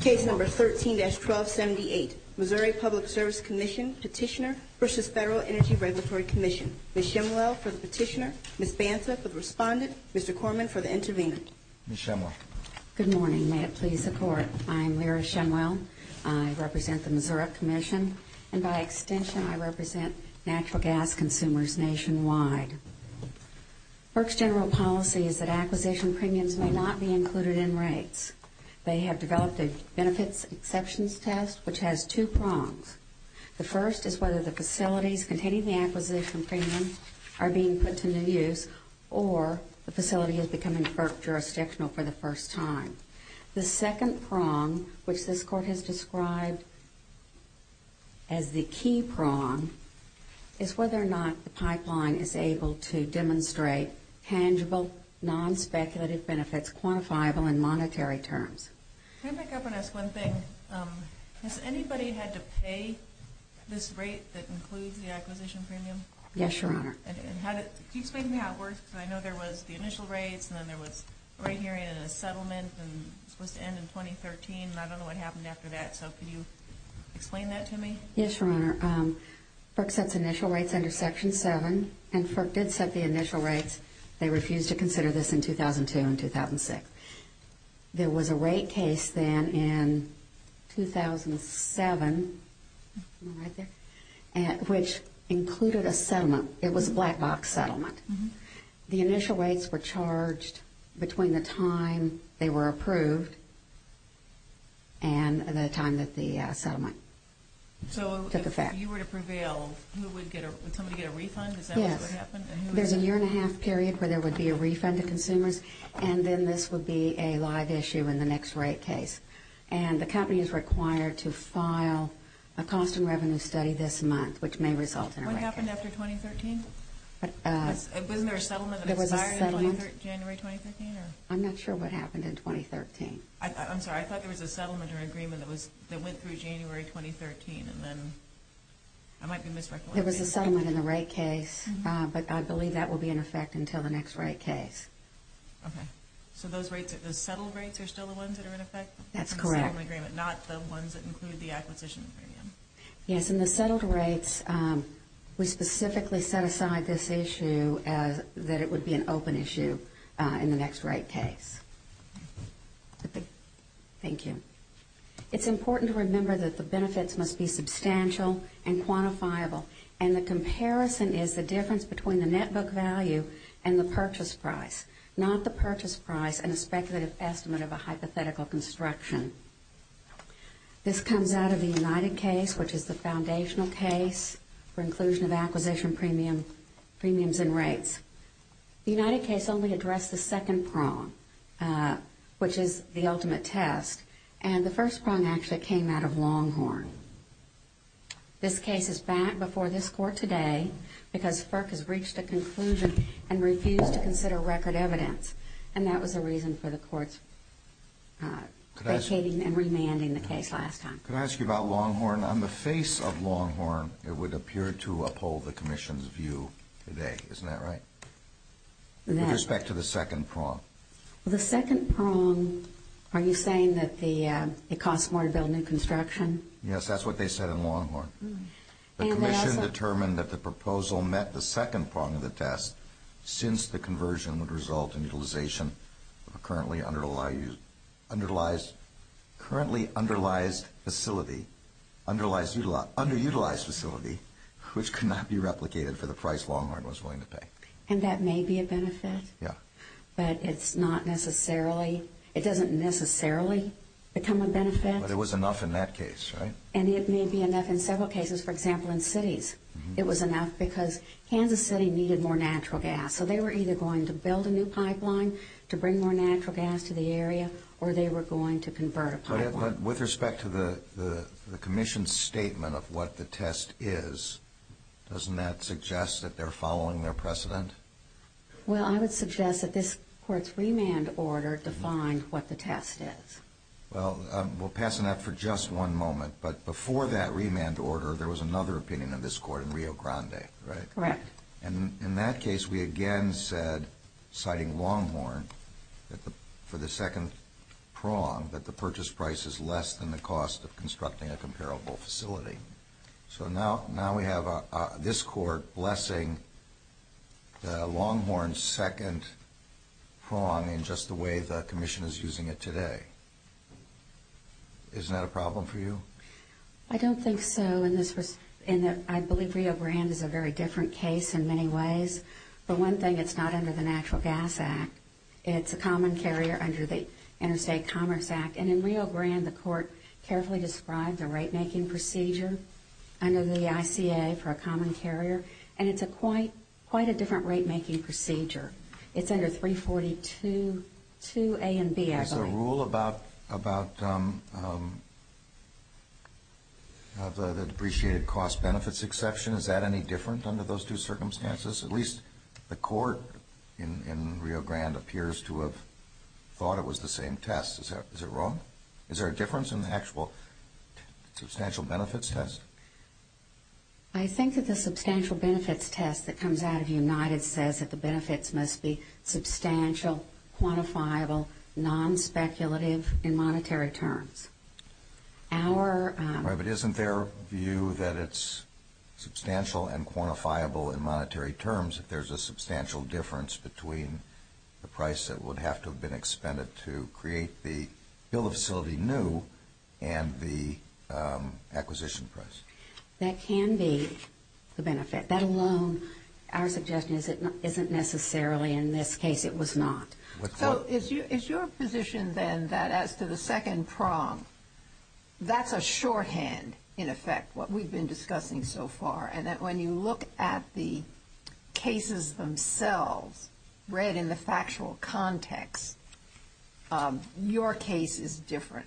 Case No. 13-1278, Missouri Public Service Commission Petitioner v. Federal Energy Regulatory Commission. Ms. Shemwell for the petitioner, Ms. Banta for the respondent, Mr. Corman for the intervener. Ms. Shemwell. Good morning. May it please the Court, I'm Lyra Shemwell. I represent the Missouri Commission, and by extension I represent natural gas consumers nationwide. FERC's general policy is that acquisition premiums may not be included in rates. They have developed a benefits exceptions test, which has two prongs. The first is whether the facilities containing the acquisition premium are being put to new use or the facility is becoming FERC jurisdictional for the first time. The second prong, which this Court has described as the key prong, is whether or not the pipeline is able to demonstrate tangible, non-speculative benefits, quantifiable in monetary terms. Can I pick up and ask one thing? Has anybody had to pay this rate that includes the acquisition premium? Yes, Your Honor. Can you explain to me how it works? Because I know there was the initial rates, and then there was right here in a settlement, and it was supposed to end in 2013, and I don't know what happened after that. So can you explain that to me? Yes, Your Honor. FERC sets initial rates under Section 7, and FERC did set the initial rates. They refused to consider this in 2002 and 2006. There was a rate case then in 2007, which included a settlement. It was a black box settlement. The initial rates were charged between the time they were approved and the time that the settlement took effect. So if you were to prevail, would somebody get a refund? Yes. There's a year-and-a-half period where there would be a refund to consumers, and then this would be a live issue in the next rate case. And the company is required to file a cost and revenue study this month, which may result in a rate case. Do you know what happened after 2013? Wasn't there a settlement that expired in January 2013? I'm not sure what happened in 2013. I'm sorry. I thought there was a settlement or agreement that went through January 2013, and then I might be misrecognizing it. There was a settlement in the rate case, but I believe that will be in effect until the next rate case. Okay. So those settled rates are still the ones that are in effect? That's correct. The settlement agreement, not the ones that include the acquisition agreement. Yes, in the settled rates, we specifically set aside this issue that it would be an open issue in the next rate case. Thank you. It's important to remember that the benefits must be substantial and quantifiable, and the comparison is the difference between the net book value and the purchase price, not the purchase price and a speculative estimate of a hypothetical construction. This comes out of the United case, which is the foundational case for inclusion of acquisition premiums and rates. The United case only addressed the second prong, which is the ultimate test, and the first prong actually came out of Longhorn. This case is back before this court today because FERC has reached a conclusion and refused to consider record evidence, and that was a reason for the courts vacating and remanding the case last time. Could I ask you about Longhorn? On the face of Longhorn, it would appear to uphold the commission's view today. Isn't that right? With respect to the second prong. The second prong, are you saying that it costs more to build new construction? Yes, that's what they said in Longhorn. The commission determined that the proposal met the second prong of the test since the conversion would result in utilization of a currently underutilized facility, which could not be replicated for the price Longhorn was willing to pay. And that may be a benefit, but it doesn't necessarily become a benefit. But it was enough in that case, right? And it may be enough in several cases. For example, in cities, it was enough because Kansas City needed more natural gas. So they were either going to build a new pipeline to bring more natural gas to the area, or they were going to convert a pipeline. But with respect to the commission's statement of what the test is, doesn't that suggest that they're following their precedent? Well, I would suggest that this court's remand order defined what the test is. Well, we'll pass on that for just one moment. But before that remand order, there was another opinion of this court in Rio Grande, right? Correct. And in that case, we again said, citing Longhorn, for the second prong, that the purchase price is less than the cost of constructing a comparable facility. So now we have this court blessing Longhorn's second prong in just the way the commission is using it today. Isn't that a problem for you? I don't think so. I believe Rio Grande is a very different case in many ways. For one thing, it's not under the Natural Gas Act. It's a common carrier under the Interstate Commerce Act. And in Rio Grande, the court carefully described a rate-making procedure under the ICA for a common carrier. And it's quite a different rate-making procedure. It's under 342A and B, I believe. Is there a rule about the depreciated cost benefits exception? Is that any different under those two circumstances? At least the court in Rio Grande appears to have thought it was the same test. Is it wrong? Is there a difference in the actual substantial benefits test? I think that the substantial benefits test that comes out of United says that the benefits must be substantial, quantifiable, non-speculative in monetary terms. But isn't there a view that it's substantial and quantifiable in monetary terms if there's a substantial difference between the price that would have to have been expended to create the facility new and the acquisition price? That can be the benefit. That alone, our suggestion is it isn't necessarily. In this case, it was not. So is your position then that as to the second prong, that's a shorthand, in effect, what we've been discussing so far, and that when you look at the cases themselves read in the factual context, your case is different?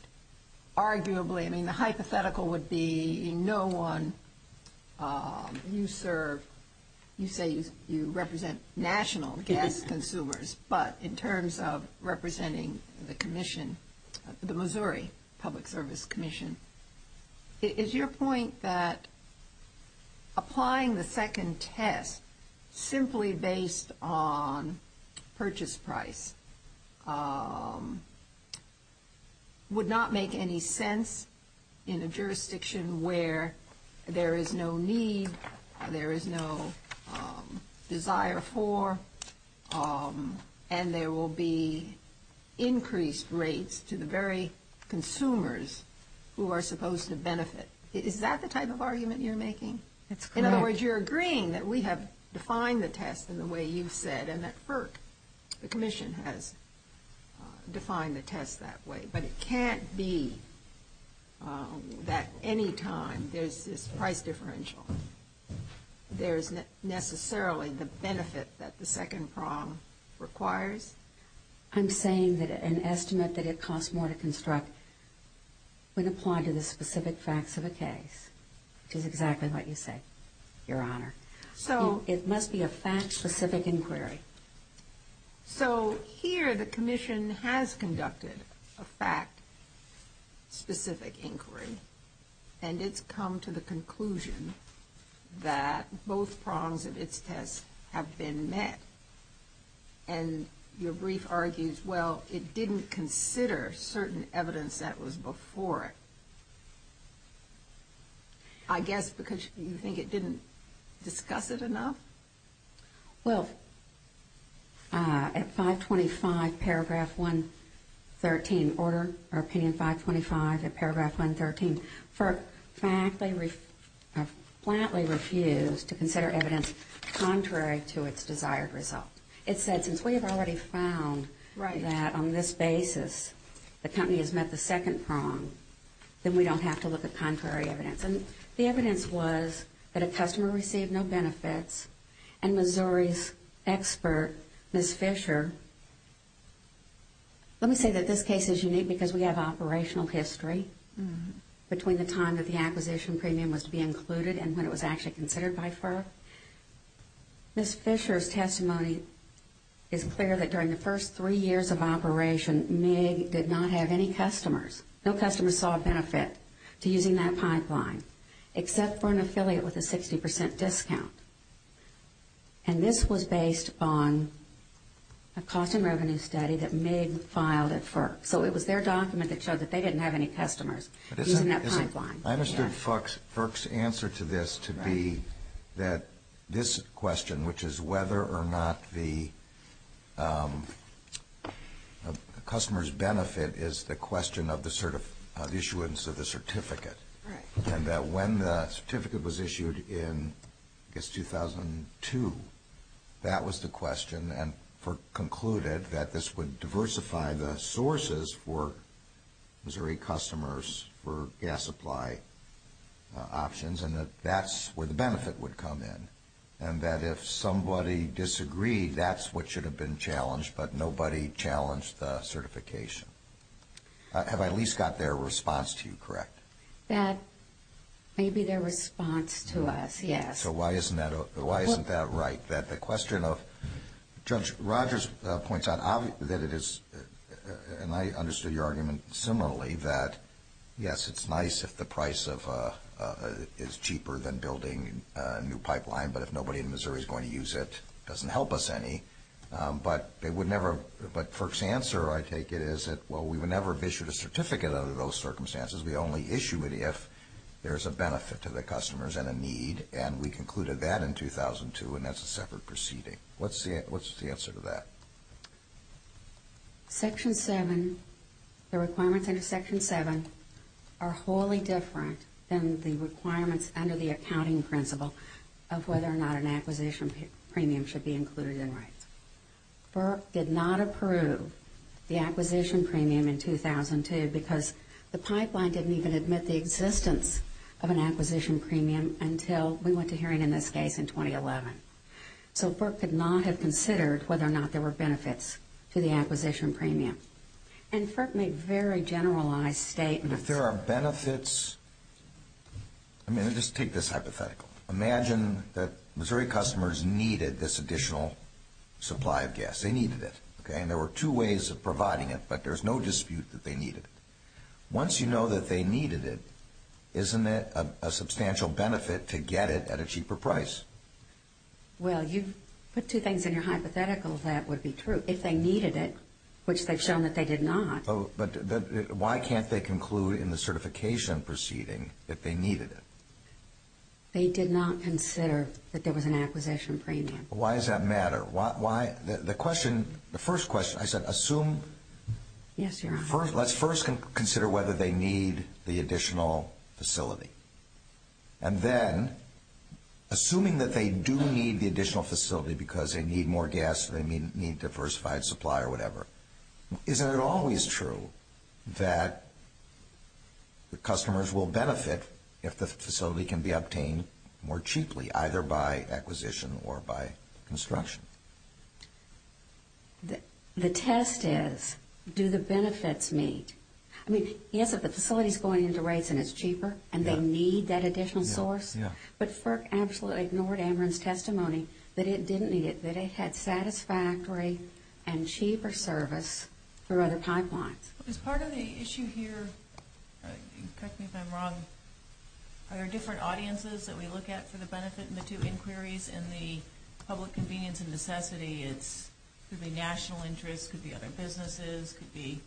Arguably. I mean, the hypothetical would be no one you serve, you say you represent national gas consumers, but in terms of representing the commission, the Missouri Public Service Commission. Is your point that applying the second test simply based on purchase price would not make any sense in a jurisdiction where there is no need, there is no desire for, and there will be increased rates to the very consumers who are supposed to benefit? Is that the type of argument you're making? That's correct. In other words, you're agreeing that we have defined the test in the way you've said and that FERC, the commission, has defined the test that way. But it can't be that any time there's this price differential, there's necessarily the benefit that the second prong requires? I'm saying that an estimate that it costs more to construct would apply to the specific facts of a case, which is exactly what you say, Your Honor. It must be a fact-specific inquiry. So here the commission has conducted a fact-specific inquiry, and it's come to the conclusion that both prongs of its test have been met. And your brief argues, well, it didn't consider certain evidence that was before it, I guess because you think it didn't discuss it enough? Well, at 525 paragraph 113, order opinion 525 at paragraph 113, FERC flatly refused to consider evidence contrary to its desired result. It said since we have already found that on this basis the company has met the second prong, then we don't have to look at contrary evidence. And the evidence was that a customer received no benefits, and Missouri's expert, Ms. Fisher, let me say that this case is unique because we have operational history between the time that the acquisition premium was to be included and when it was actually considered by FERC. Ms. Fisher's testimony is clear that during the first three years of operation, MIG did not have any customers. No customers saw a benefit to using that pipeline except for an affiliate with a 60% discount. And this was based on a cost and revenue study that MIG filed at FERC. So it was their document that showed that they didn't have any customers using that pipeline. I understood FERC's answer to this to be that this question, which is whether or not the customer's benefit is the question of the issuance of the certificate, and that when the certificate was issued in, I guess, 2002, that was the question, FERC concluded that this would diversify the sources for Missouri customers for gas supply options and that that's where the benefit would come in. And that if somebody disagreed, that's what should have been challenged, but nobody challenged the certification. Have I at least got their response to you correct? That may be their response to us, yes. So why isn't that right? Judge Rogers points out that it is, and I understood your argument similarly, that, yes, it's nice if the price is cheaper than building a new pipeline, but if nobody in Missouri is going to use it, it doesn't help us any. But FERC's answer, I take it, is that, well, we would never have issued a certificate under those circumstances. We only issue it if there's a benefit to the customers and a need, and we concluded that in 2002, and that's a separate proceeding. What's the answer to that? Section 7, the requirements under Section 7, are wholly different than the requirements under the accounting principle of whether or not an acquisition premium should be included in rights. FERC did not approve the acquisition premium in 2002 because the pipeline didn't even admit the existence of an acquisition premium until we went to hearing in this case in 2011. So FERC could not have considered whether or not there were benefits to the acquisition premium. And FERC made very generalized statements. If there are benefits, I mean, just take this hypothetical. Imagine that Missouri customers needed this additional supply of gas. They needed it, okay, and there were two ways of providing it, but there's no dispute that they needed it. Once you know that they needed it, isn't it a substantial benefit to get it at a cheaper price? Well, you put two things in your hypothetical that would be true. If they needed it, which they've shown that they did not. But why can't they conclude in the certification proceeding that they needed it? They did not consider that there was an acquisition premium. Why does that matter? The question, the first question, I said assume. Yes, Your Honor. Let's first consider whether they need the additional facility. And then, assuming that they do need the additional facility because they need more gas or they need diversified supply or whatever, isn't it always true that the customers will benefit if the facility can be obtained more cheaply, either by acquisition or by construction? The test is, do the benefits meet? I mean, yes, if the facility's going into rates and it's cheaper and they need that additional source, but FERC absolutely ignored Amron's testimony that it didn't need it, that it had satisfactory and cheaper service for other pipelines. Is part of the issue here, correct me if I'm wrong, are there different audiences that we look at for the benefit in the two inquiries and the public convenience and necessity? It could be national interest, it could be other businesses, it could be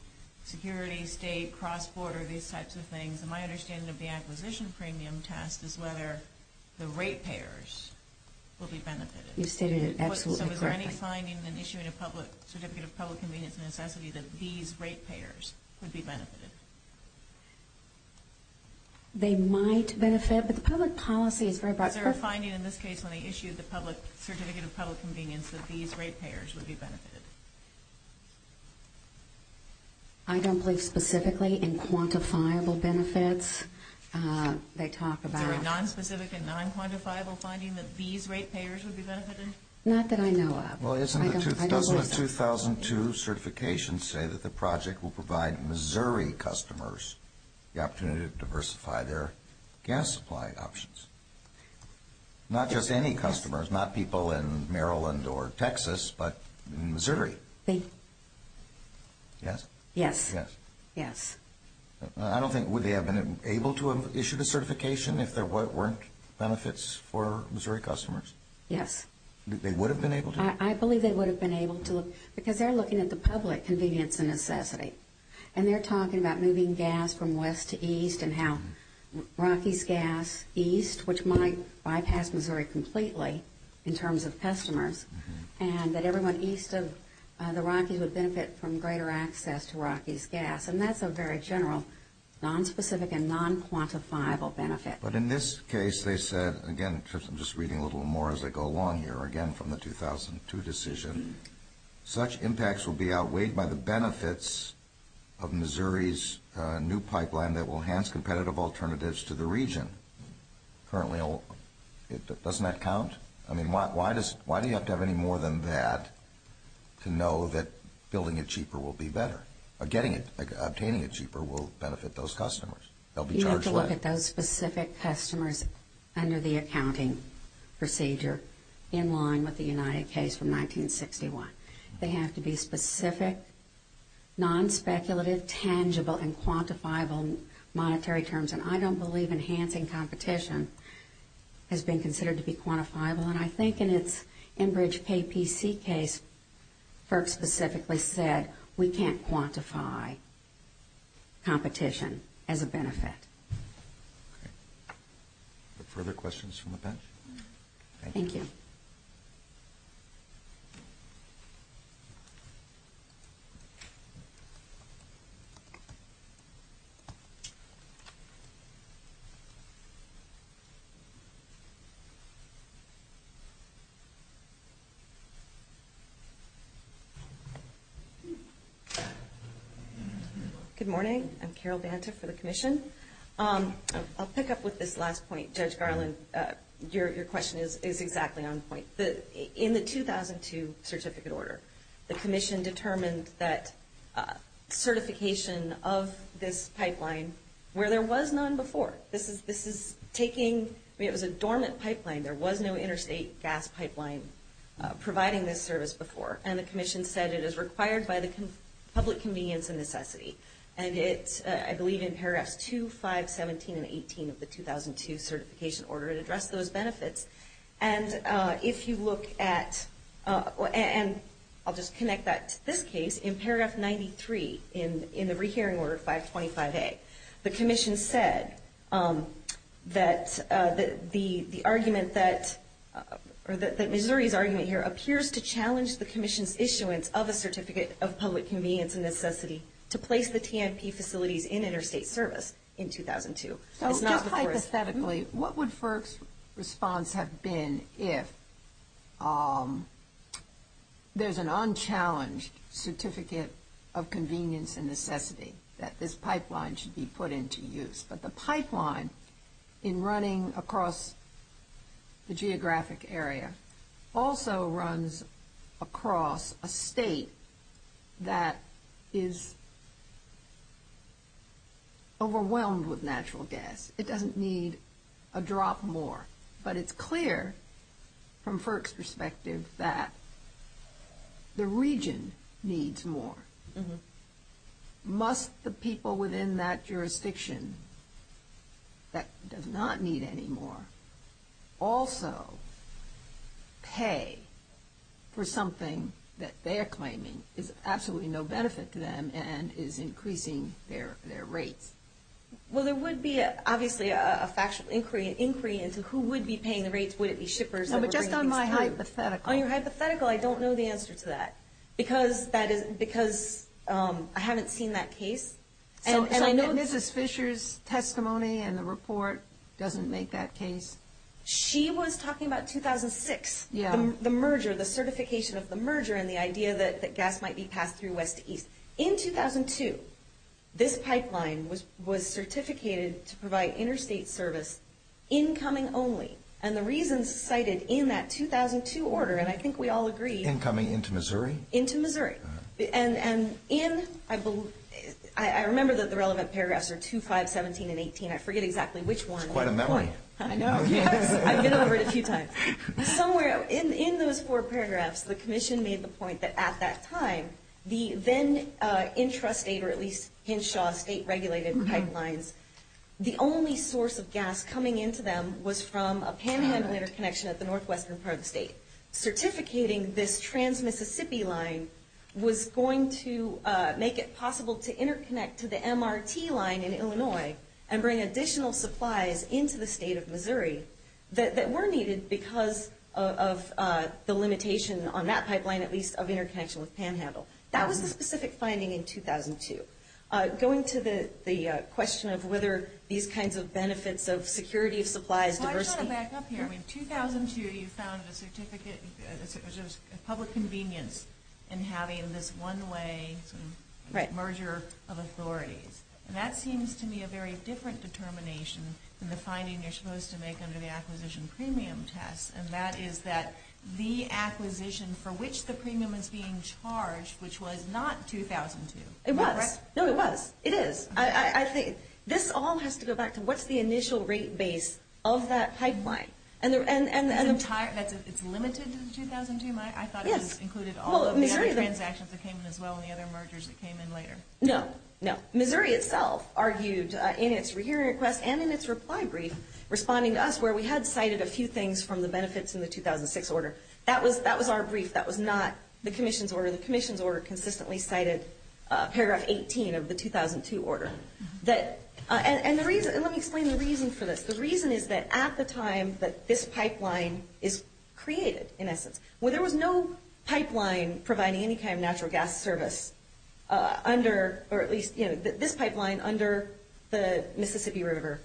security, state, cross-border, these types of things. And my understanding of the acquisition premium test is whether the rate payers will be benefited. You've stated it absolutely correctly. So is there any finding in issuing a certificate of public convenience and necessity that these rate payers would be benefited? They might benefit, but the public policy is very broad. Is there a finding in this case when they issued the public certificate of public convenience that these rate payers would be benefited? I don't believe specifically in quantifiable benefits. Is there a nonspecific and nonquantifiable finding that these rate payers would be benefited? Not that I know of. Doesn't the 2002 certification say that the project will provide Missouri customers the opportunity to diversify their gas supply options? Not just any customers, not people in Maryland or Texas, but in Missouri. Yes? Yes. I don't think, would they have been able to have issued a certification if there weren't benefits for Missouri customers? Yes. They would have been able to? I believe they would have been able to, because they're looking at the public convenience and necessity. And they're talking about moving gas from west to east and how Rockies gas east, which might bypass Missouri completely in terms of customers, and that everyone east of the Rockies would benefit from greater access to Rockies gas. And that's a very general nonspecific and nonquantifiable benefit. But in this case, they said, again, I'm just reading a little more as I go along here, again from the 2002 decision, such impacts will be outweighed by the benefits of Missouri's new pipeline that will enhance competitive alternatives to the region. Currently, doesn't that count? I mean, why do you have to have any more than that to know that building it cheaper will be better? Getting it, obtaining it cheaper will benefit those customers. They'll be charged less. You have to look at those specific customers under the accounting procedure in line with the United case from 1961. They have to be specific, nonspeculative, tangible, and quantifiable monetary terms. And I don't believe enhancing competition has been considered to be quantifiable. And I think in its Enbridge Pay PC case, FERC specifically said we can't quantify competition as a benefit. Okay. Are there further questions from the bench? Thank you. Good morning. I'm Carol Banta for the commission. I'll pick up with this last point. Judge Garland, your question is exactly on point. In the 2002 certificate order, the commission determined that certification of this pipeline, where there was none before, this is taking, I mean, it was a dormant pipeline. There was no interstate gas pipeline providing this service before. And the commission said it is required by the public convenience and necessity. And it's, I believe, in paragraphs 2, 5, 17, and 18 of the 2002 certification order, it addressed those benefits. And if you look at, and I'll just connect that to this case, in paragraph 93, in the rehearing order 525A, the commission said that the argument that, or that Missouri's argument here appears to challenge the commission's issuance of a certificate of public convenience and necessity to place the T&P facilities in interstate service in 2002. It's not the first. Hypothetically, what would FERC's response have been if there's an unchallenged certificate of convenience and necessity that this pipeline should be put into use, but the pipeline in running across the geographic area also runs across a state that is overwhelmed with natural gas. It doesn't need a drop more. But it's clear from FERC's perspective that the region needs more. Must the people within that jurisdiction that does not need any more also pay for something that they're claiming is absolutely no benefit to them and is increasing their rates? Well, there would be, obviously, a factual inquiry into who would be paying the rates. Would it be shippers? No, but just on my hypothetical. On your hypothetical, I don't know the answer to that. Because I haven't seen that case. So Mrs. Fisher's testimony in the report doesn't make that case? She was talking about 2006, the merger, the certification of the merger and the idea that gas might be passed through west to east. In 2002, this pipeline was certificated to provide interstate service incoming only. And the reasons cited in that 2002 order, and I think we all agree. Incoming into Missouri? Into Missouri. And I remember that the relevant paragraphs are 2, 5, 17, and 18. I forget exactly which one. It's quite a memory. I know. I've been over it a few times. Somewhere in those four paragraphs, the commission made the point that at that time, the then intrastate or at least Henshaw state regulated pipelines, the only source of gas coming into them was from a panhandler connection at the northwestern part of the state. Certificating this trans-Mississippi line was going to make it possible to interconnect to the MRT line in Illinois and bring additional supplies into the state of Missouri that were needed because of the limitation on that pipeline, at least of interconnection with panhandle. That was the specific finding in 2002. Going to the question of whether these kinds of benefits of security of supplies, Why do I want to back up here? In 2002, you found a public convenience in having this one-way merger of authorities. That seems to me a very different determination than the finding you're supposed to make under the acquisition premium test, and that is that the acquisition for which the premium is being charged, which was not 2002. It was. No, it was. It is. This all has to go back to what's the initial rate base of that pipeline. It's limited to the 2002? I thought it included all of the other transactions that came in as well and the other mergers that came in later. No, no. Missouri itself argued in its rehearing request and in its reply brief, responding to us where we had cited a few things from the benefits in the 2006 order. That was our brief. That was not the commission's order. The commission's order consistently cited paragraph 18 of the 2002 order. Let me explain the reason for this. The reason is that at the time that this pipeline is created, in essence, where there was no pipeline providing any kind of natural gas service under, or at least this pipeline under the Mississippi River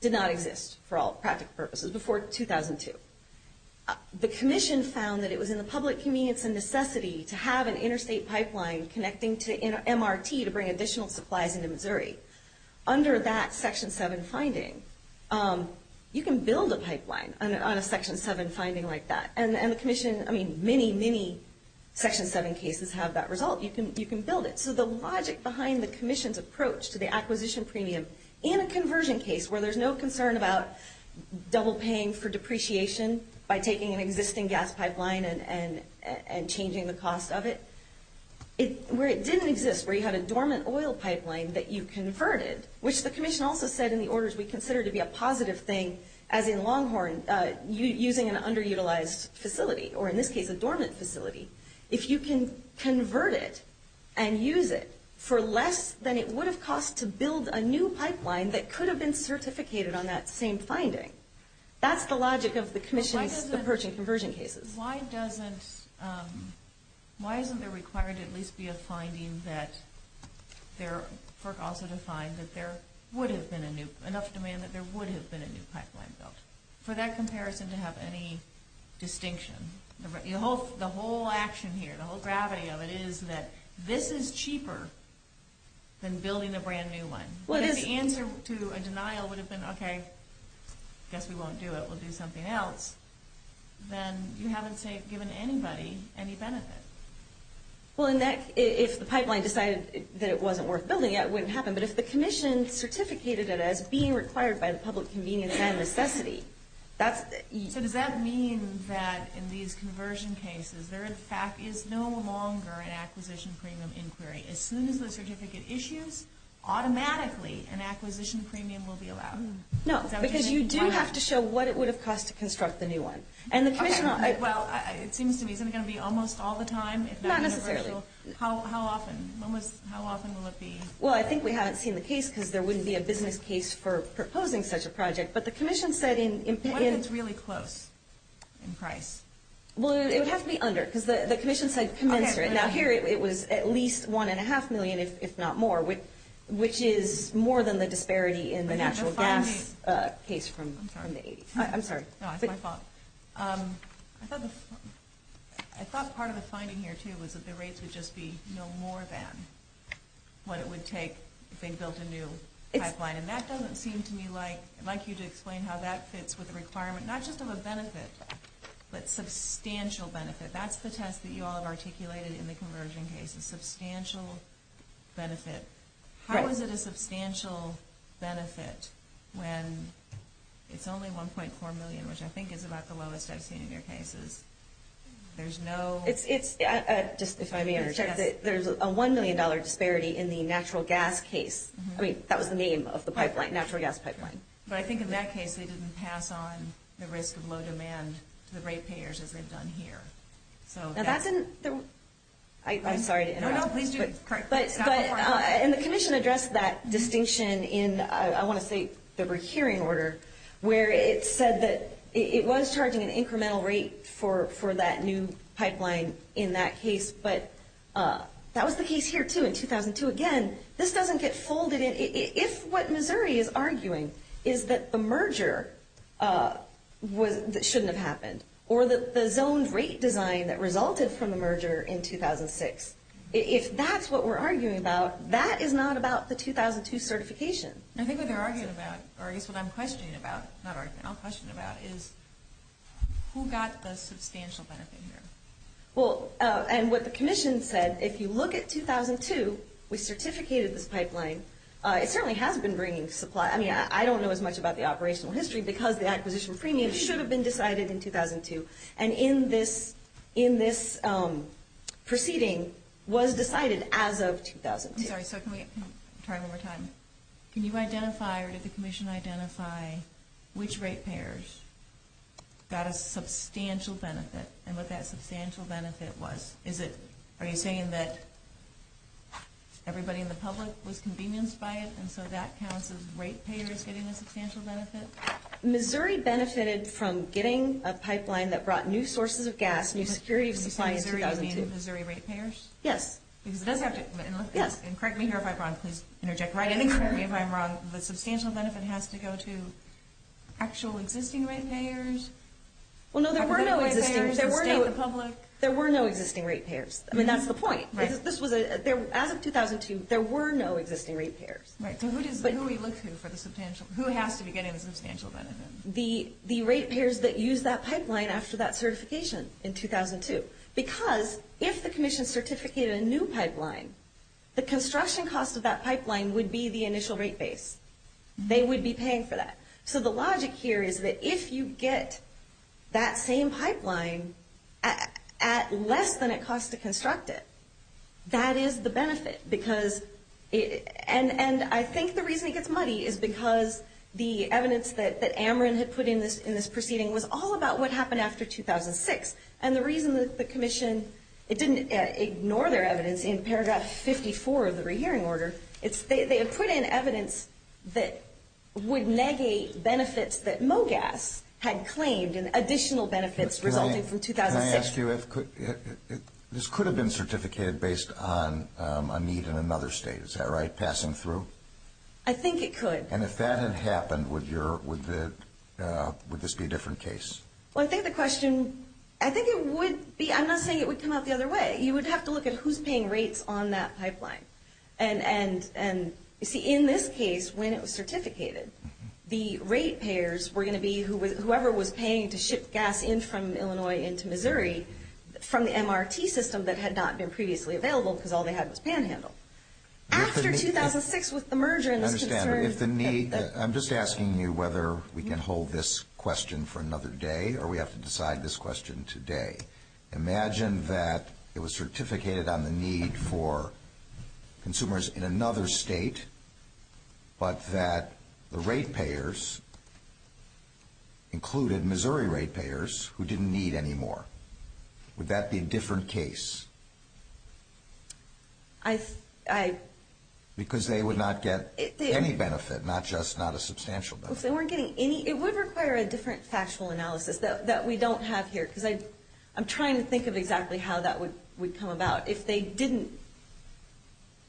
did not exist for all practical purposes before 2002. The commission found that it was in the public convenience and necessity to have an interstate pipeline connecting to MRT to bring additional supplies into Missouri. Under that Section 7 finding, you can build a pipeline on a Section 7 finding like that. And the commission, I mean, many, many Section 7 cases have that result. You can build it. So the logic behind the commission's approach to the acquisition premium and a conversion case where there's no concern about double paying for depreciation by taking an existing gas pipeline and changing the cost of it, where it didn't exist, where you had a dormant oil pipeline that you converted, which the commission also said in the orders we consider to be a positive thing, as in Longhorn, using an underutilized facility, or in this case a dormant facility. If you can convert it and use it for less than it would have cost to build a new pipeline that could have been certificated on that same finding, that's the logic of the commission's approach in conversion cases. Why isn't there required to at least be a finding that there would have been enough demand that there would have been a new pipeline built? For that comparison to have any distinction. The whole action here, the whole gravity of it is that this is cheaper than building a brand new one. If the answer to a denial would have been, okay, I guess we won't do it, we'll do something else, then you haven't given anybody any benefit. Well, if the pipeline decided that it wasn't worth building it, it wouldn't happen. But if the commission certificated it as being required by the public convenience and necessity, So does that mean that in these conversion cases, there in fact is no longer an acquisition premium inquiry? As soon as the certificate issues, automatically an acquisition premium will be allowed? No, because you do have to show what it would have cost to construct the new one. Well, it seems to me, isn't it going to be almost all the time? Not necessarily. How often will it be? Well, I think we haven't seen the case because there wouldn't be a business case for proposing such a project, but the commission said in... What if it's really close in price? Well, it would have to be under because the commission said commensurate. Now, here it was at least one and a half million, if not more, which is more than the disparity in the natural gas case from the 80s. I'm sorry. No, it's my fault. I thought part of the finding here, too, was that the rates would just be no more than what it would take if they built a new pipeline. And that doesn't seem to me like you to explain how that fits with the requirement, not just of a benefit, but substantial benefit. That's the test that you all have articulated in the conversion case, a substantial benefit. How is it a substantial benefit when it's only $1.4 million, which I think is about the lowest I've seen in your cases? There's no... If I may interject, there's a $1 million disparity in the natural gas case. I mean, that was the name of the pipeline, natural gas pipeline. But I think in that case they didn't pass on the risk of low demand to the rate payers as they've done here. Now, that didn't... I'm sorry to interrupt. No, no, please do. And the commission addressed that distinction in, I want to say, the rehearing order, where it said that it was charging an incremental rate for that new pipeline in that case, but that was the case here, too, in 2002. Again, this doesn't get folded in. If what Missouri is arguing is that the merger shouldn't have happened or that the zoned rate design that resulted from the merger in 2006, if that's what we're arguing about, that is not about the 2002 certification. I think what they're arguing about, or I guess what I'm questioning about, not arguing, I'll question about is who got the substantial benefit here. Well, and what the commission said, if you look at 2002, we certificated this pipeline. It certainly has been bringing supply. I mean, I don't know as much about the operational history because the acquisition premium should have been decided in 2002, and in this proceeding was decided as of 2002. I'm sorry, so can we try one more time? Can you identify or did the commission identify which rate payers got a substantial benefit and what that substantial benefit was? Are you saying that everybody in the public was convenienced by it, and so that counts as rate payers getting a substantial benefit? Missouri benefited from getting a pipeline that brought new sources of gas, new security of supply in 2002. Are you saying Missouri rate payers? Yes. Correct me if I'm wrong. Please interject. Correct me if I'm wrong. The substantial benefit has to go to actual existing rate payers? Well, no, there were no existing rate payers. There were no existing rate payers. I mean, that's the point. As of 2002, there were no existing rate payers. Right, so who do we look to for the substantial? Who has to be getting the substantial benefit? The rate payers that used that pipeline after that certification in 2002 because if the commission certificated a new pipeline, the construction cost of that pipeline would be the initial rate base. They would be paying for that. So the logic here is that if you get that same pipeline at less than it costs to construct it, that is the benefit. And I think the reason it gets muddy is because the evidence that Ameren had put in this proceeding was all about what happened after 2006, and the reason that the commission didn't ignore their evidence in paragraph 54 of the rehearing order, they had put in evidence that would negate benefits that MOGAS had claimed and additional benefits resulting from 2006. Can I ask you, this could have been certificated based on a need in another state. Is that right, passing through? I think it could. And if that had happened, would this be a different case? Well, I think the question, I think it would be, I'm not saying it would come out the other way. You would have to look at who's paying rates on that pipeline. And, you see, in this case, when it was certificated, the rate payers were going to be whoever was paying to ship gas in from Illinois into Missouri from the MRT system that had not been previously available because all they had was panhandle. After 2006 with the merger and this concern. I'm just asking you whether we can hold this question for another day or we have to decide this question today. Imagine that it was certificated on the need for consumers in another state, but that the rate payers included Missouri rate payers who didn't need any more. Would that be a different case? Because they would not get any benefit, not just not a substantial benefit. It would require a different factual analysis that we don't have here because I'm trying to think of exactly how that would come about. If they didn't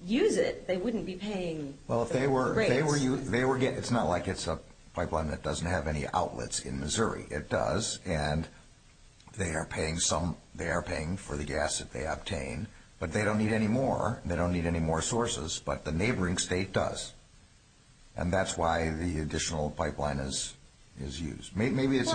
use it, they wouldn't be paying the rates. It's not like it's a pipeline that doesn't have any outlets in Missouri. It does, and they are paying for the gas that they obtain, but they don't need any more. They don't need any more sources, but the neighboring state does. And that's why the additional pipeline is used. Maybe it's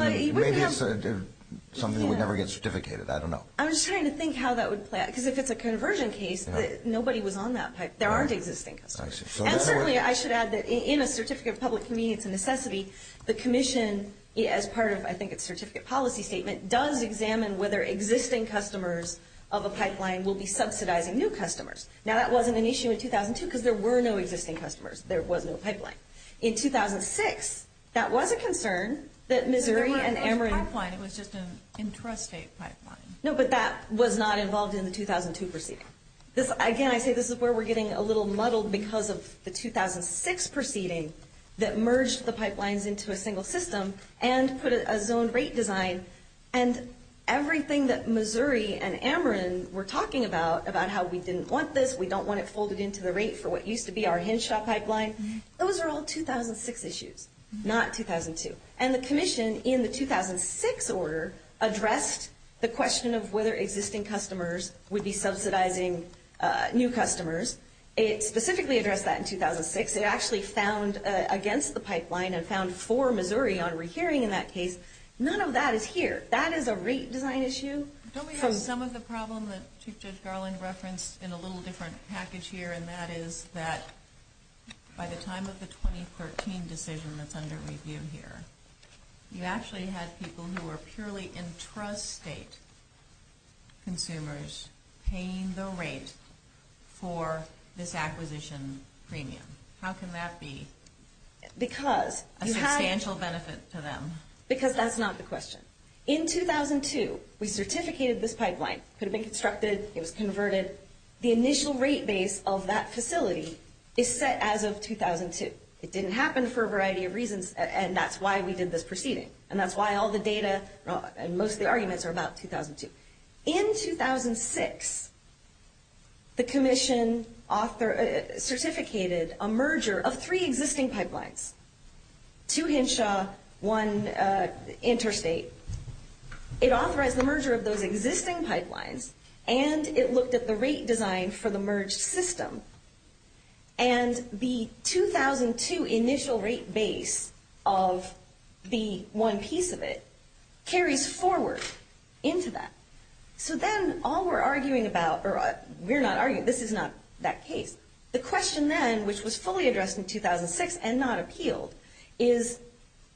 something that would never get certificated. I don't know. I'm just trying to think how that would play out because if it's a conversion case, nobody was on that pipeline. There aren't existing customers. And certainly I should add that in a Certificate of Public Convenience and Necessity, the commission, as part of I think its certificate policy statement, does examine whether existing customers of a pipeline will be subsidizing new customers. Now that wasn't an issue in 2002 because there were no existing customers. There was no pipeline. In 2006, that was a concern that Missouri and Ameren. It was a pipeline. It was just an intrastate pipeline. No, but that was not involved in the 2002 proceeding. Again, I say this is where we're getting a little muddled because of the 2006 proceeding that merged the pipelines into a single system and put a zone rate design. And everything that Missouri and Ameren were talking about, about how we didn't want this, we don't want it folded into the rate for what used to be our Henshaw pipeline, those are all 2006 issues, not 2002. And the commission in the 2006 order addressed the question of whether existing customers would be subsidizing new customers. It specifically addressed that in 2006. It actually found against the pipeline and found for Missouri on rehearing in that case. None of that is here. That is a rate design issue. Don't we have some of the problem that Chief Judge Garland referenced in a little different package here, and that is that by the time of the 2013 decision that's under review here, you actually had people who were purely intrastate consumers paying the rate for this acquisition premium. How can that be a substantial benefit to them? Because that's not the question. In 2002, we certificated this pipeline. It could have been constructed. It was converted. The initial rate base of that facility is set as of 2002. It didn't happen for a variety of reasons, and that's why we did this proceeding, and that's why all the data and most of the arguments are about 2002. In 2006, the commission certificated a merger of three existing pipelines, two Henshaw, one interstate. It authorized the merger of those existing pipelines, and it looked at the rate design for the merged system, and the 2002 initial rate base of the one piece of it carries forward into that. So then all we're arguing about, or we're not arguing, this is not that case, the question then, which was fully addressed in 2006 and not appealed, is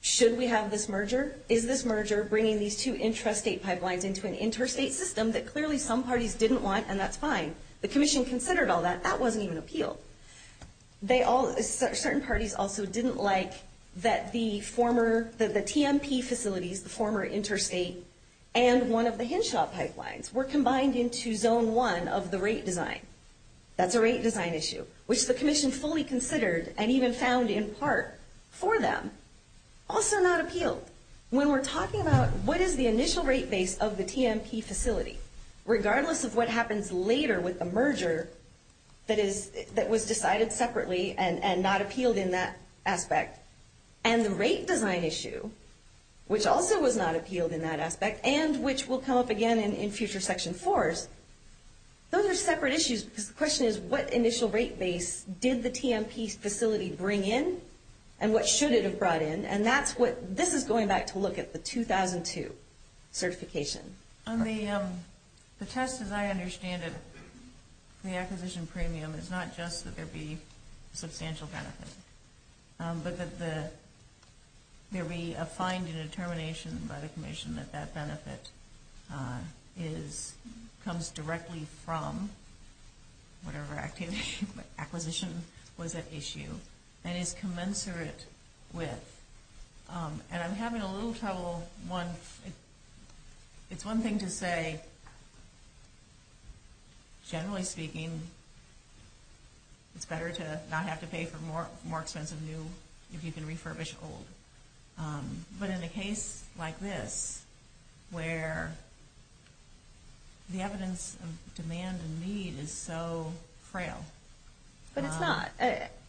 should we have this merger? Is this merger bringing these two intrastate pipelines into an interstate system that clearly some parties didn't want, and that's fine? The commission considered all that. That wasn't even appealed. Certain parties also didn't like that the TMP facilities, the former interstate, and one of the Henshaw pipelines were combined into zone one of the rate design. That's a rate design issue, which the commission fully considered and even found in part for them, also not appealed. When we're talking about what is the initial rate base of the TMP facility, regardless of what happens later with the merger that was decided separately and not appealed in that aspect, and the rate design issue, which also was not appealed in that aspect and which will come up again in future Section 4s, those are separate issues because the question is what initial rate base did the TMP facility bring in and what should it have brought in, and this is going back to look at the 2002 certification. The test, as I understand it, for the acquisition premium, is not just that there be substantial benefit, but that there be a find and a determination by the commission that that benefit comes directly from whatever acquisition was at issue and is commensurate with, and I'm having a little trouble. It's one thing to say, generally speaking, it's better to not have to pay for more expensive new if you can refurbish old, but in a case like this where the evidence of demand and need is so frail. But it's not.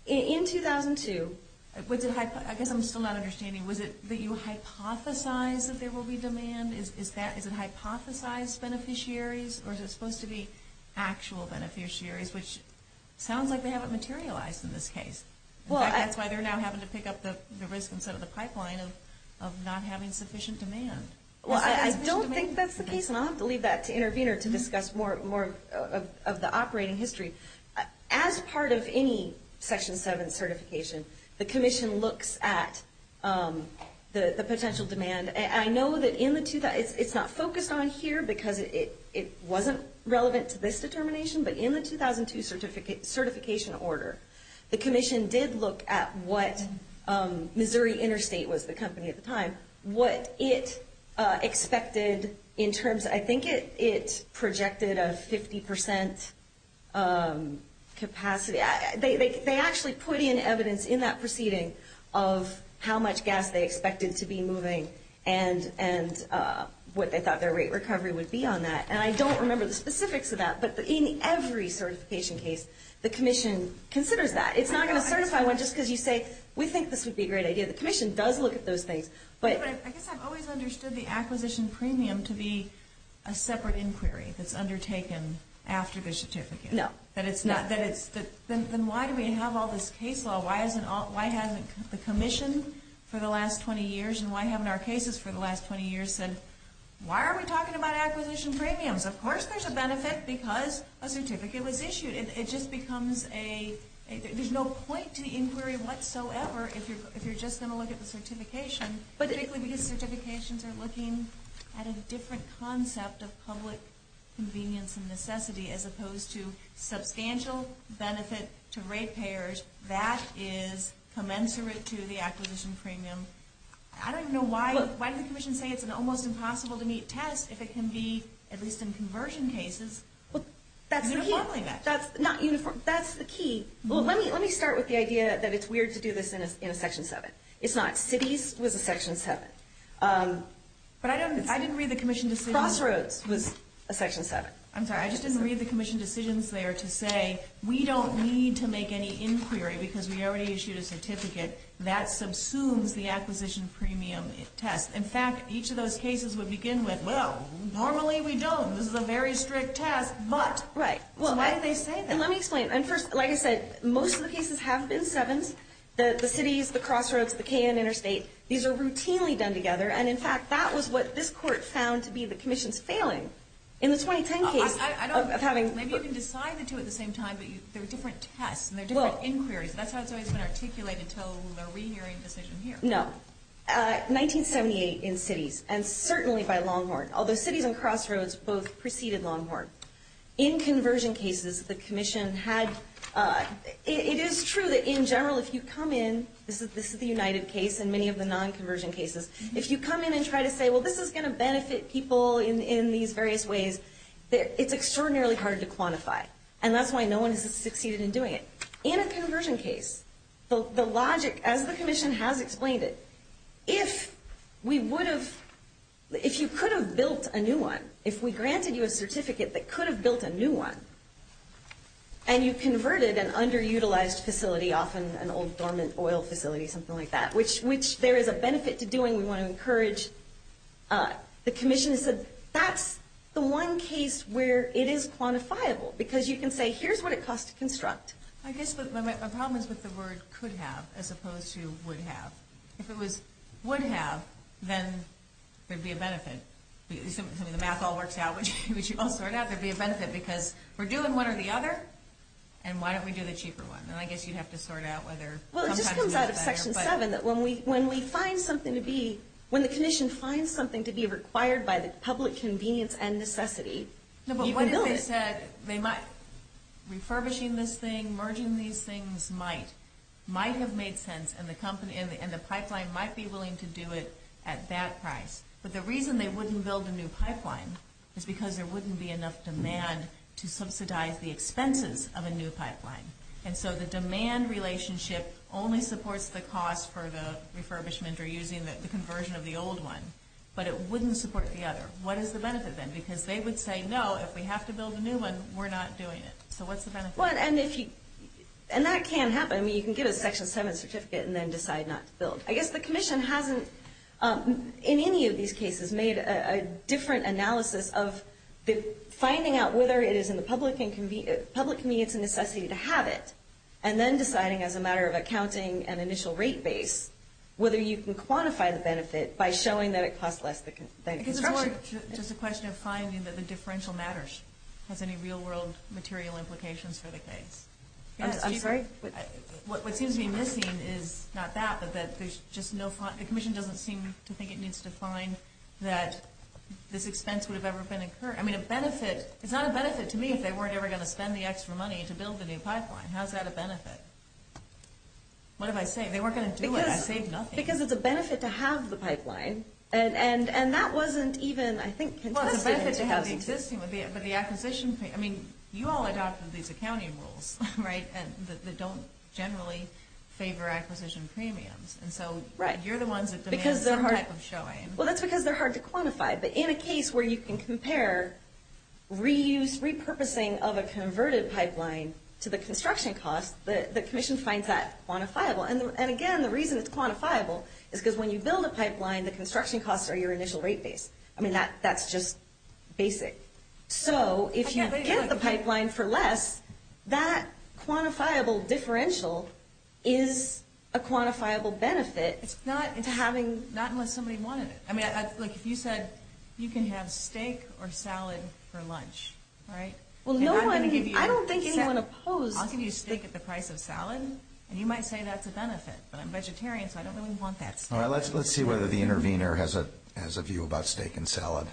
In 2002... I guess I'm still not understanding. Was it that you hypothesized that there will be demand? Is it hypothesized beneficiaries or is it supposed to be actual beneficiaries, which sounds like they haven't materialized in this case. That's why they're now having to pick up the risk instead of the pipeline of not having sufficient demand. Well, I don't think that's the case, and I'll have to leave that to Intervenor to discuss more of the operating history. As part of any Section 7 certification, the commission looks at the potential demand. I know that it's not focused on here because it wasn't relevant to this determination, but in the 2002 certification order, the commission did look at what Missouri Interstate was the company at the time, what it expected in terms of, I think it projected a 50% capacity. They actually put in evidence in that proceeding of how much gas they expected to be moving and what they thought their rate recovery would be on that. And I don't remember the specifics of that, but in every certification case, the commission considers that. It's not going to certify one just because you say, we think this would be a great idea. The commission does look at those things. I guess I've always understood the acquisition premium to be a separate inquiry that's undertaken after the certificate. No. Then why do we have all this case law? Why hasn't the commission for the last 20 years, and why haven't our cases for the last 20 years said, why are we talking about acquisition premiums? Of course there's a benefit because a certificate was issued. It just becomes a, there's no point to the inquiry whatsoever if you're just going to look at the certification, particularly because certifications are looking at a different concept of public convenience and necessity as opposed to substantial benefit to rate payers. That is commensurate to the acquisition premium. I don't even know why. Why did the commission say it's almost impossible to meet tests if it can be, at least in conversion cases, uniformly met? That's the key. Let me start with the idea that it's weird to do this in a Section 7. It's not. Cities was a Section 7. But I didn't read the commission decision. Crossroads was a Section 7. I'm sorry. I just didn't read the commission decisions there to say, we don't need to make any inquiry because we already issued a certificate. That subsumes the acquisition premium test. In fact, each of those cases would begin with, well, normally we don't, this is a very strict test, but why did they say that? Let me explain. First, like I said, most of the cases have been 7s, the cities, the crossroads, the K and interstate. These are routinely done together. In fact, that was what this court found to be the commission's failing. In the 2010 case of having – Maybe you can decide the two at the same time, but they're different tests and they're different inquiries. That's how it's always been articulated until the re-hearing decision here. No. 1978 in cities, and certainly by Longhorn, although cities and crossroads both preceded Longhorn. In conversion cases, the commission had – it is true that in general if you come in, this is the United case and many of the non-conversion cases, if you come in and try to say, well, this is going to benefit people in these various ways, it's extraordinarily hard to quantify. And that's why no one has succeeded in doing it. In a conversion case, the logic, as the commission has explained it, if we would have – if you could have built a new one, if we granted you a certificate that could have built a new one and you converted an underutilized facility off an old dormant oil facility, something like that, which there is a benefit to doing. We want to encourage the commission. That's the one case where it is quantifiable because you can say, I guess my problem is with the word could have as opposed to would have. If it was would have, then there would be a benefit. If the math all works out, which you all sort out, there would be a benefit because we're doing one or the other, and why don't we do the cheaper one? And I guess you'd have to sort out whether sometimes it's better. Well, it just comes out of Section 7 that when we find something to be – when the commission finds something to be required by the public convenience and necessity, you can build it. No, but what if they said they might – refurbishing this thing, merging these things might, might have made sense and the pipeline might be willing to do it at that price. But the reason they wouldn't build a new pipeline is because there wouldn't be enough demand to subsidize the expenses of a new pipeline. And so the demand relationship only supports the cost for the refurbishment or using the conversion of the old one, but it wouldn't support the other. What is the benefit then? Because they would say, no, if we have to build a new one, we're not doing it. So what's the benefit? And that can happen. I mean, you can give a Section 7 certificate and then decide not to build. I guess the commission hasn't in any of these cases made a different analysis of finding out whether it is in the public convenience and necessity to have it and then deciding as a matter of accounting and initial rate base whether you can Just a question of finding that the differential matters. Has any real-world material implications for the case? I'm sorry? What seems to be missing is not that, but that there's just no – the commission doesn't seem to think it needs to find that this expense would have ever been incurred. I mean, a benefit – it's not a benefit to me if they weren't ever going to spend the extra money to build the new pipeline. How is that a benefit? What did I say? I saved nothing. Because it's a benefit to have the pipeline. And that wasn't even, I think, contested. Well, it's a benefit to have the existing, but the acquisition – I mean, you all adopted these accounting rules, right, that don't generally favor acquisition premiums. And so you're the ones that demand some type of showing. Well, that's because they're hard to quantify. But in a case where you can compare reuse, repurposing of a converted pipeline to the construction cost, the commission finds that quantifiable. And the construction costs are your initial rate base. I mean, that's just basic. So if you get the pipeline for less, that quantifiable differential is a quantifiable benefit to having – Not unless somebody wanted it. I mean, like if you said you can have steak or salad for lunch, right? Well, no one – I don't think anyone opposed – I'll give you steak at the price of salad, and you might say that's a benefit. But I'm vegetarian, so I don't really want that steak. All right, let's see whether the intervener has a view about steak and salad.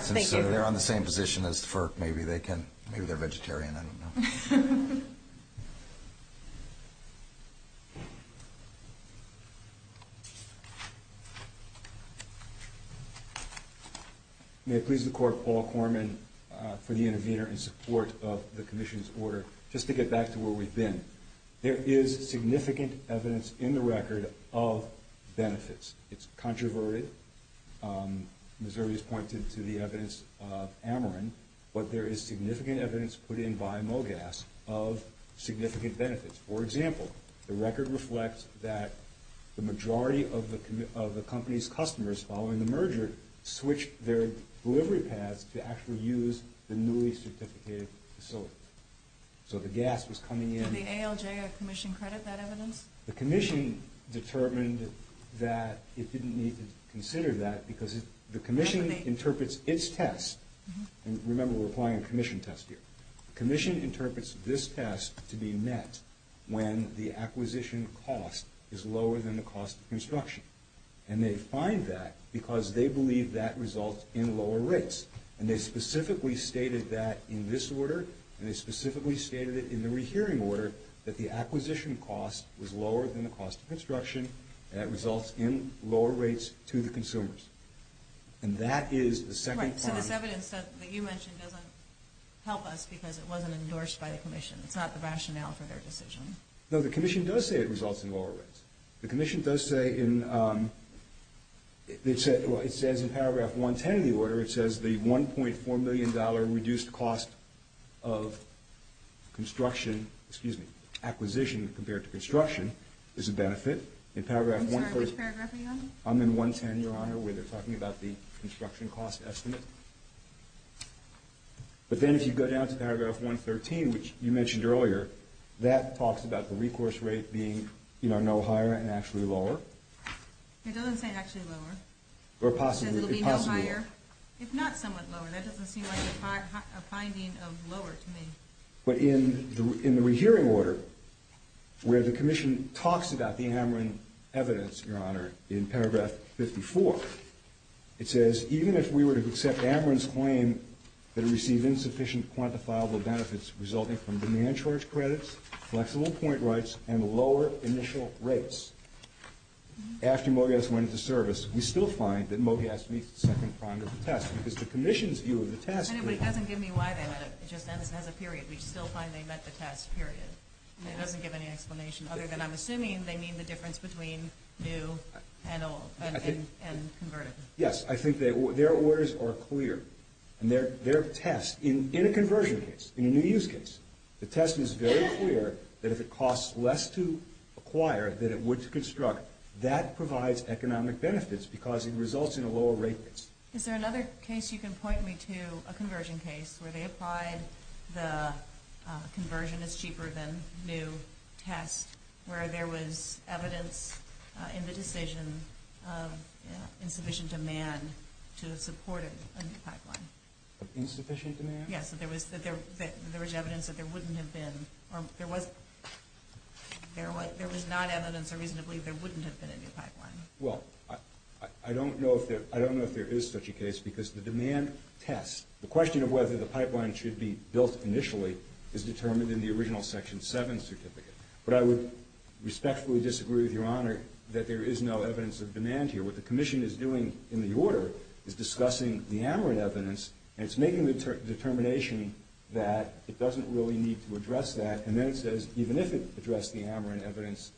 Since they're on the same position as FERC, maybe they can – maybe they're vegetarian, I don't know. May it please the Court, Paul Korman for the intervener in support of the commission's order. Just to get back to where we've been, there is significant evidence in the record of benefits. It's controverted. Missouri has pointed to the evidence of Ameren, but there is significant evidence put in by MOGAS of significant benefits. For example, the record reflects that the majority of the company's customers, following the merger, switched their delivery paths to actually use the newly certificated facilities. So the gas was coming in – For the ALJF commission credit, that evidence? The commission determined that it didn't need to consider that because the commission interprets its test – and remember, we're applying a commission test here. The commission interprets this test to be met when the acquisition cost is lower than the cost of construction. And they find that because they believe that results in lower rates. And they specifically stated that in this order, and they specifically stated it in the rehearing order, that the acquisition cost was lower than the cost of construction, and that results in lower rates to the consumers. And that is the second part. Right, so this evidence that you mentioned doesn't help us because it wasn't endorsed by the commission. It's not the rationale for their decision. No, the commission does say it results in lower rates. The commission does say in – I'm sorry, which paragraph are you on? I'm in 110, Your Honor, where they're talking about the construction cost estimate. But then if you go down to paragraph 113, which you mentioned earlier, that talks about the recourse rate being no higher and actually lower. It doesn't say actually lower. Or possibly. Or possibly. It says it will be no higher. It's not somewhat lower. That doesn't seem like a finding of lower to me. But in the rehearing order, where the commission talks about the Ameren evidence, Your Honor, in paragraph 54, it says, even if we were to accept Ameren's claim that it received insufficient quantifiable benefits resulting from demand charge credits, flexible point rights, and lower initial rates, after MoGAS went into service, we still find that MoGAS meets the second prong of the test because the commission's view of the test... But it doesn't give me why they met it. It just says it has a period. We still find they met the test, period. It doesn't give any explanation other than I'm assuming they mean the difference between new and old and converted. Yes, I think their orders are clear. And their test, in a conversion case, in a new use case, the test is very clear that if it costs less to acquire than it would to construct, that provides economic benefits because it results in a lower rate base. Is there another case you can point me to, a conversion case, where they applied the conversion is cheaper than new test, where there was evidence in the decision of insufficient demand to support a new pipeline? Of insufficient demand? Yes, that there was evidence that there wouldn't have been, or there was not evidence or reason to believe there wouldn't have been a new pipeline. Well, I don't know if there is such a case because the demand test, the question of whether the pipeline should be built initially is determined in the original Section 7 certificate. But I would respectfully disagree with Your Honor that there is no evidence of demand here. What the commission is doing in the order is discussing the AMRIN evidence, and it's making the determination that it doesn't really need to address that, and then it says even if it addressed the AMRIN evidence,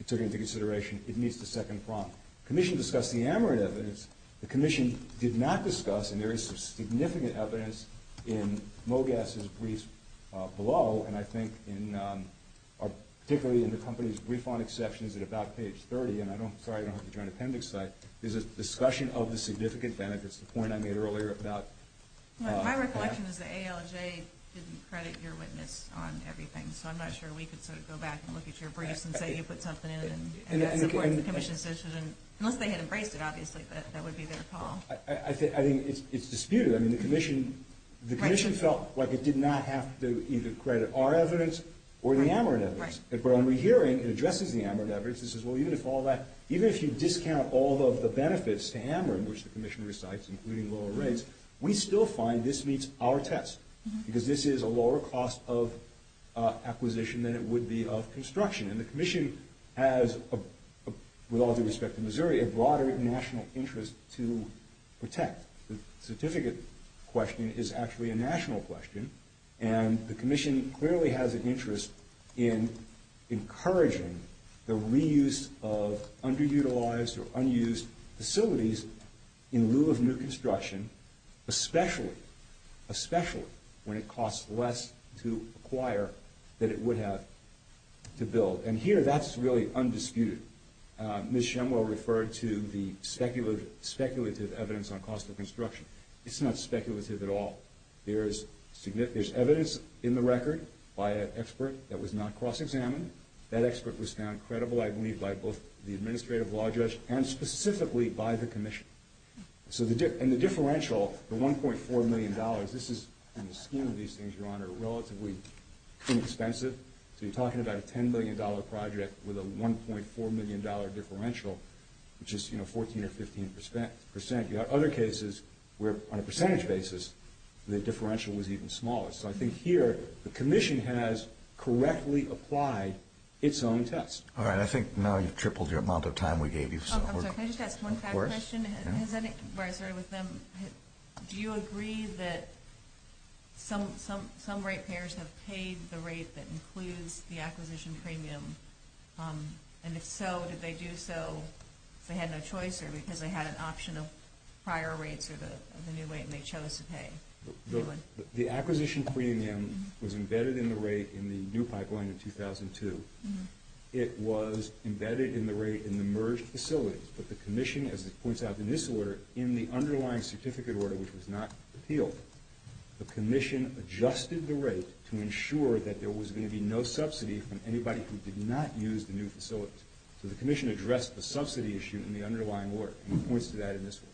it took into consideration it needs to second prompt. The commission discussed the AMRIN evidence. The commission did not discuss, and there is some significant evidence in Mogass' brief below, and I think particularly in the company's brief on exceptions at about page 30, and I'm sorry I don't have the Joint Appendix site, there's a discussion of the significant benefits, the point I made earlier about... Well, my recollection is that ALJ didn't credit your witness on everything, so I'm not sure we could sort of go back and look at your briefs and say you put something in and support the commission's decision, unless they had embraced it, obviously, that would be their call. I think it's disputed. The commission felt like it did not have to either credit our evidence or the AMRIN evidence. But when we're hearing it addresses the AMRIN evidence, it says, well, even if all that, even if you discount all of the benefits to AMRIN, which the commission recites, including lower rates, we still find this meets our test, because this is a lower cost of acquisition than it would be of construction. And the commission has, with all due respect to Missouri, a broader national interest to protect. The certificate question is actually a national question, and the commission clearly has an interest in encouraging the reuse of underutilized or unused facilities in lieu of new construction, especially when it costs less to acquire than it would have to build. And here, that's really undisputed. Ms. Shemwell referred to the speculative evidence on cost of construction. It's not speculative at all. There's evidence in the record by an expert that was not cross-examined. That expert was found credible, I believe, by both the administrative law judge and specifically by the commission. And the differential, the $1.4 million, this is, in the scheme of these things, Your Honor, relatively inexpensive. So you're talking about a $10 million project with a $1.4 million differential, which is, you know, 14% or 15%. You have other cases where, on a percentage basis, the differential was even smaller. So I think here, the commission has correctly applied its own test. All right, I think now you've tripled the amount of time we gave you. Oh, I'm sorry, can I just ask one fact question? Of course. Where I started with them, do you agree that some rate payers have paid the rate that includes the acquisition premium? And if so, did they do so because they had no choice or because they had an option of prior rates or the new rate and they chose to pay? The acquisition premium was embedded in the rate in the new pipeline in 2002. It was embedded in the rate in the merged facilities. But the commission, as it points out in this order, in the underlying certificate order, which was not appealed, the commission adjusted the rate to ensure that there was going to be no subsidy from anybody who did not use the new facilities. So the commission addressed the subsidy issue in the underlying order, and it points to that in this one.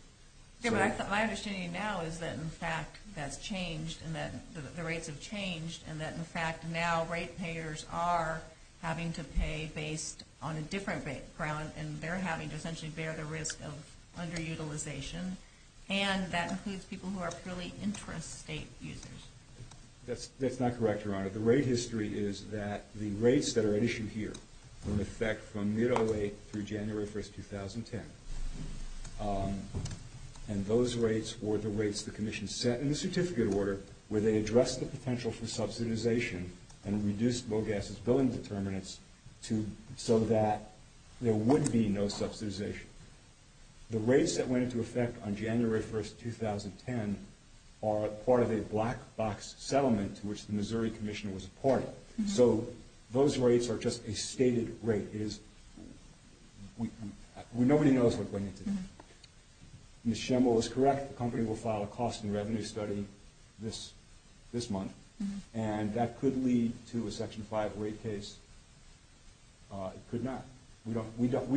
Okay, but my understanding now is that, in fact, that's changed and that the rates have changed and that, in fact, now rate payers are having to pay based on a different ground, and they're having to essentially bear the risk of underutilization, and that includes people who are purely interest state users. That's not correct, Your Honor. The rate history is that the rates that are at issue here were, in effect, from mid-'08 through January 1, 2010, and those rates were the rates the commission set in the certificate order where they addressed the potential for subsidization and reduced low-gases building determinants so that there would be no subsidization. The rates that went into effect on January 1, 2010 are part of a black-box settlement to which the Missouri Commission was a party. So those rates are just a stated rate. It is... Nobody knows what went into that. Ms. Schemmel was correct. The company will file a cost and revenue study this month, and that could lead to a Section 5 rate case. It could not. We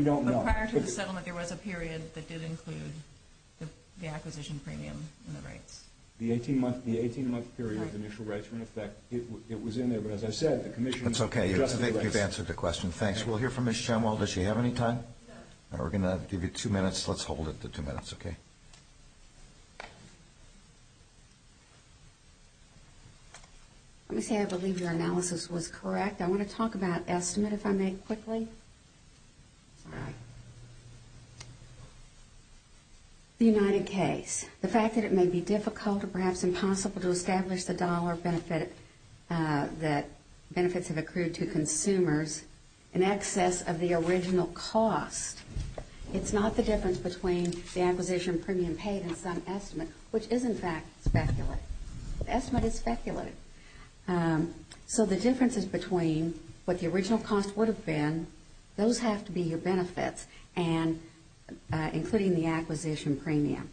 don't know. But prior to the settlement, there was a period that did include the acquisition premium and the rates. The 18-month period of initial rates were in effect. It was in there, but as I said, the commission... That's okay. I think you've answered the question. Thanks. We'll hear from Ms. Schemmel. Does she have any time? No. We're going to give you two minutes. Let's hold it for two minutes, okay? Let me say I believe your analysis was correct. I want to talk about estimate, if I may, quickly. The United case, the fact that it may be difficult or perhaps impossible to establish the dollar benefit that benefits have accrued to consumers in excess of the original cost, it's not the difference between the acquisition premium paid and some estimate, which is, in fact, speculative. The estimate is speculative. So the differences between what the original cost would have been, those have to be your benefits, including the acquisition premium.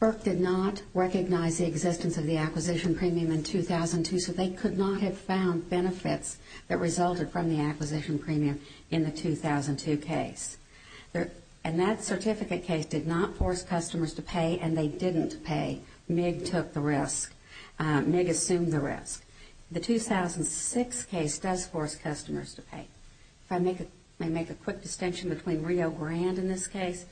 Burke did not recognize the existence of the acquisition premium in 2002, so they could not have found benefits that resulted from the acquisition premium in the 2002 case. And that certificate case did not force customers to pay, and they didn't pay. MIG took the risk. MIG assumed the risk. The 2006 case does force customers to pay. If I make a quick distinction between Rio Grande in this case,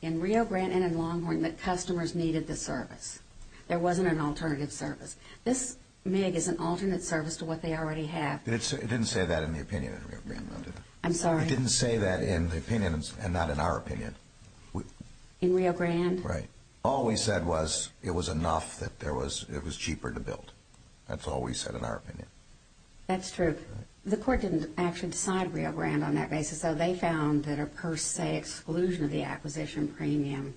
in Rio Grande and in Longhorn, the customers needed the service. There wasn't an alternative service. This MIG is an alternate service to what they already have. It didn't say that in the opinion of Rio Grande. I'm sorry? It didn't say that in the opinion and not in our opinion. In Rio Grande? Right. All we said was it was enough, that it was cheaper to build. That's all we said in our opinion. That's true. The court didn't actually decide Rio Grande on that basis, so they found that a per se exclusion of the acquisition premium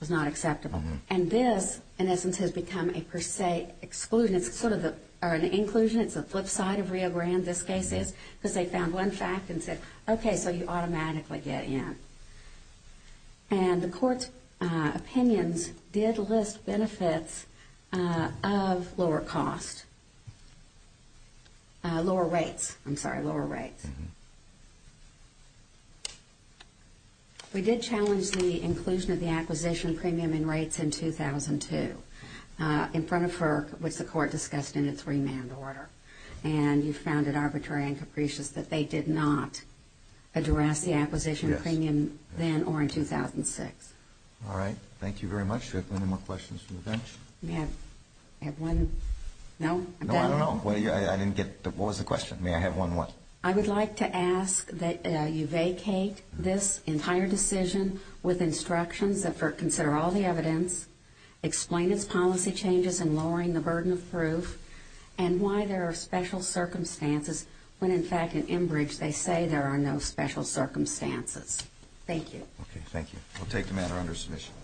was not acceptable. And this, in essence, has become a per se exclusion. It's sort of an inclusion. It's a flip side of Rio Grande, this case is, because they found one fact and said, okay, so you automatically get in. And the court's opinions did list benefits of lower costs. Lower rates. I'm sorry, lower rates. We did challenge the inclusion of the acquisition premium in rates in 2002 in front of FERC, which the court discussed in its remand order. And you found it arbitrary and capricious that they did not address the acquisition premium then or in 2006. All right. Thank you very much. Do we have any more questions from the bench? I have one. No? No, I don't know. I didn't get the question. May I have one more? I would like to ask that you vacate this entire decision with instructions that FERC consider all the evidence, explain its policy changes in lowering the burden of proof, and why there are special circumstances when, in fact, in Enbridge, they say there are no special circumstances. Thank you. Okay, thank you. We'll take the matter under submission.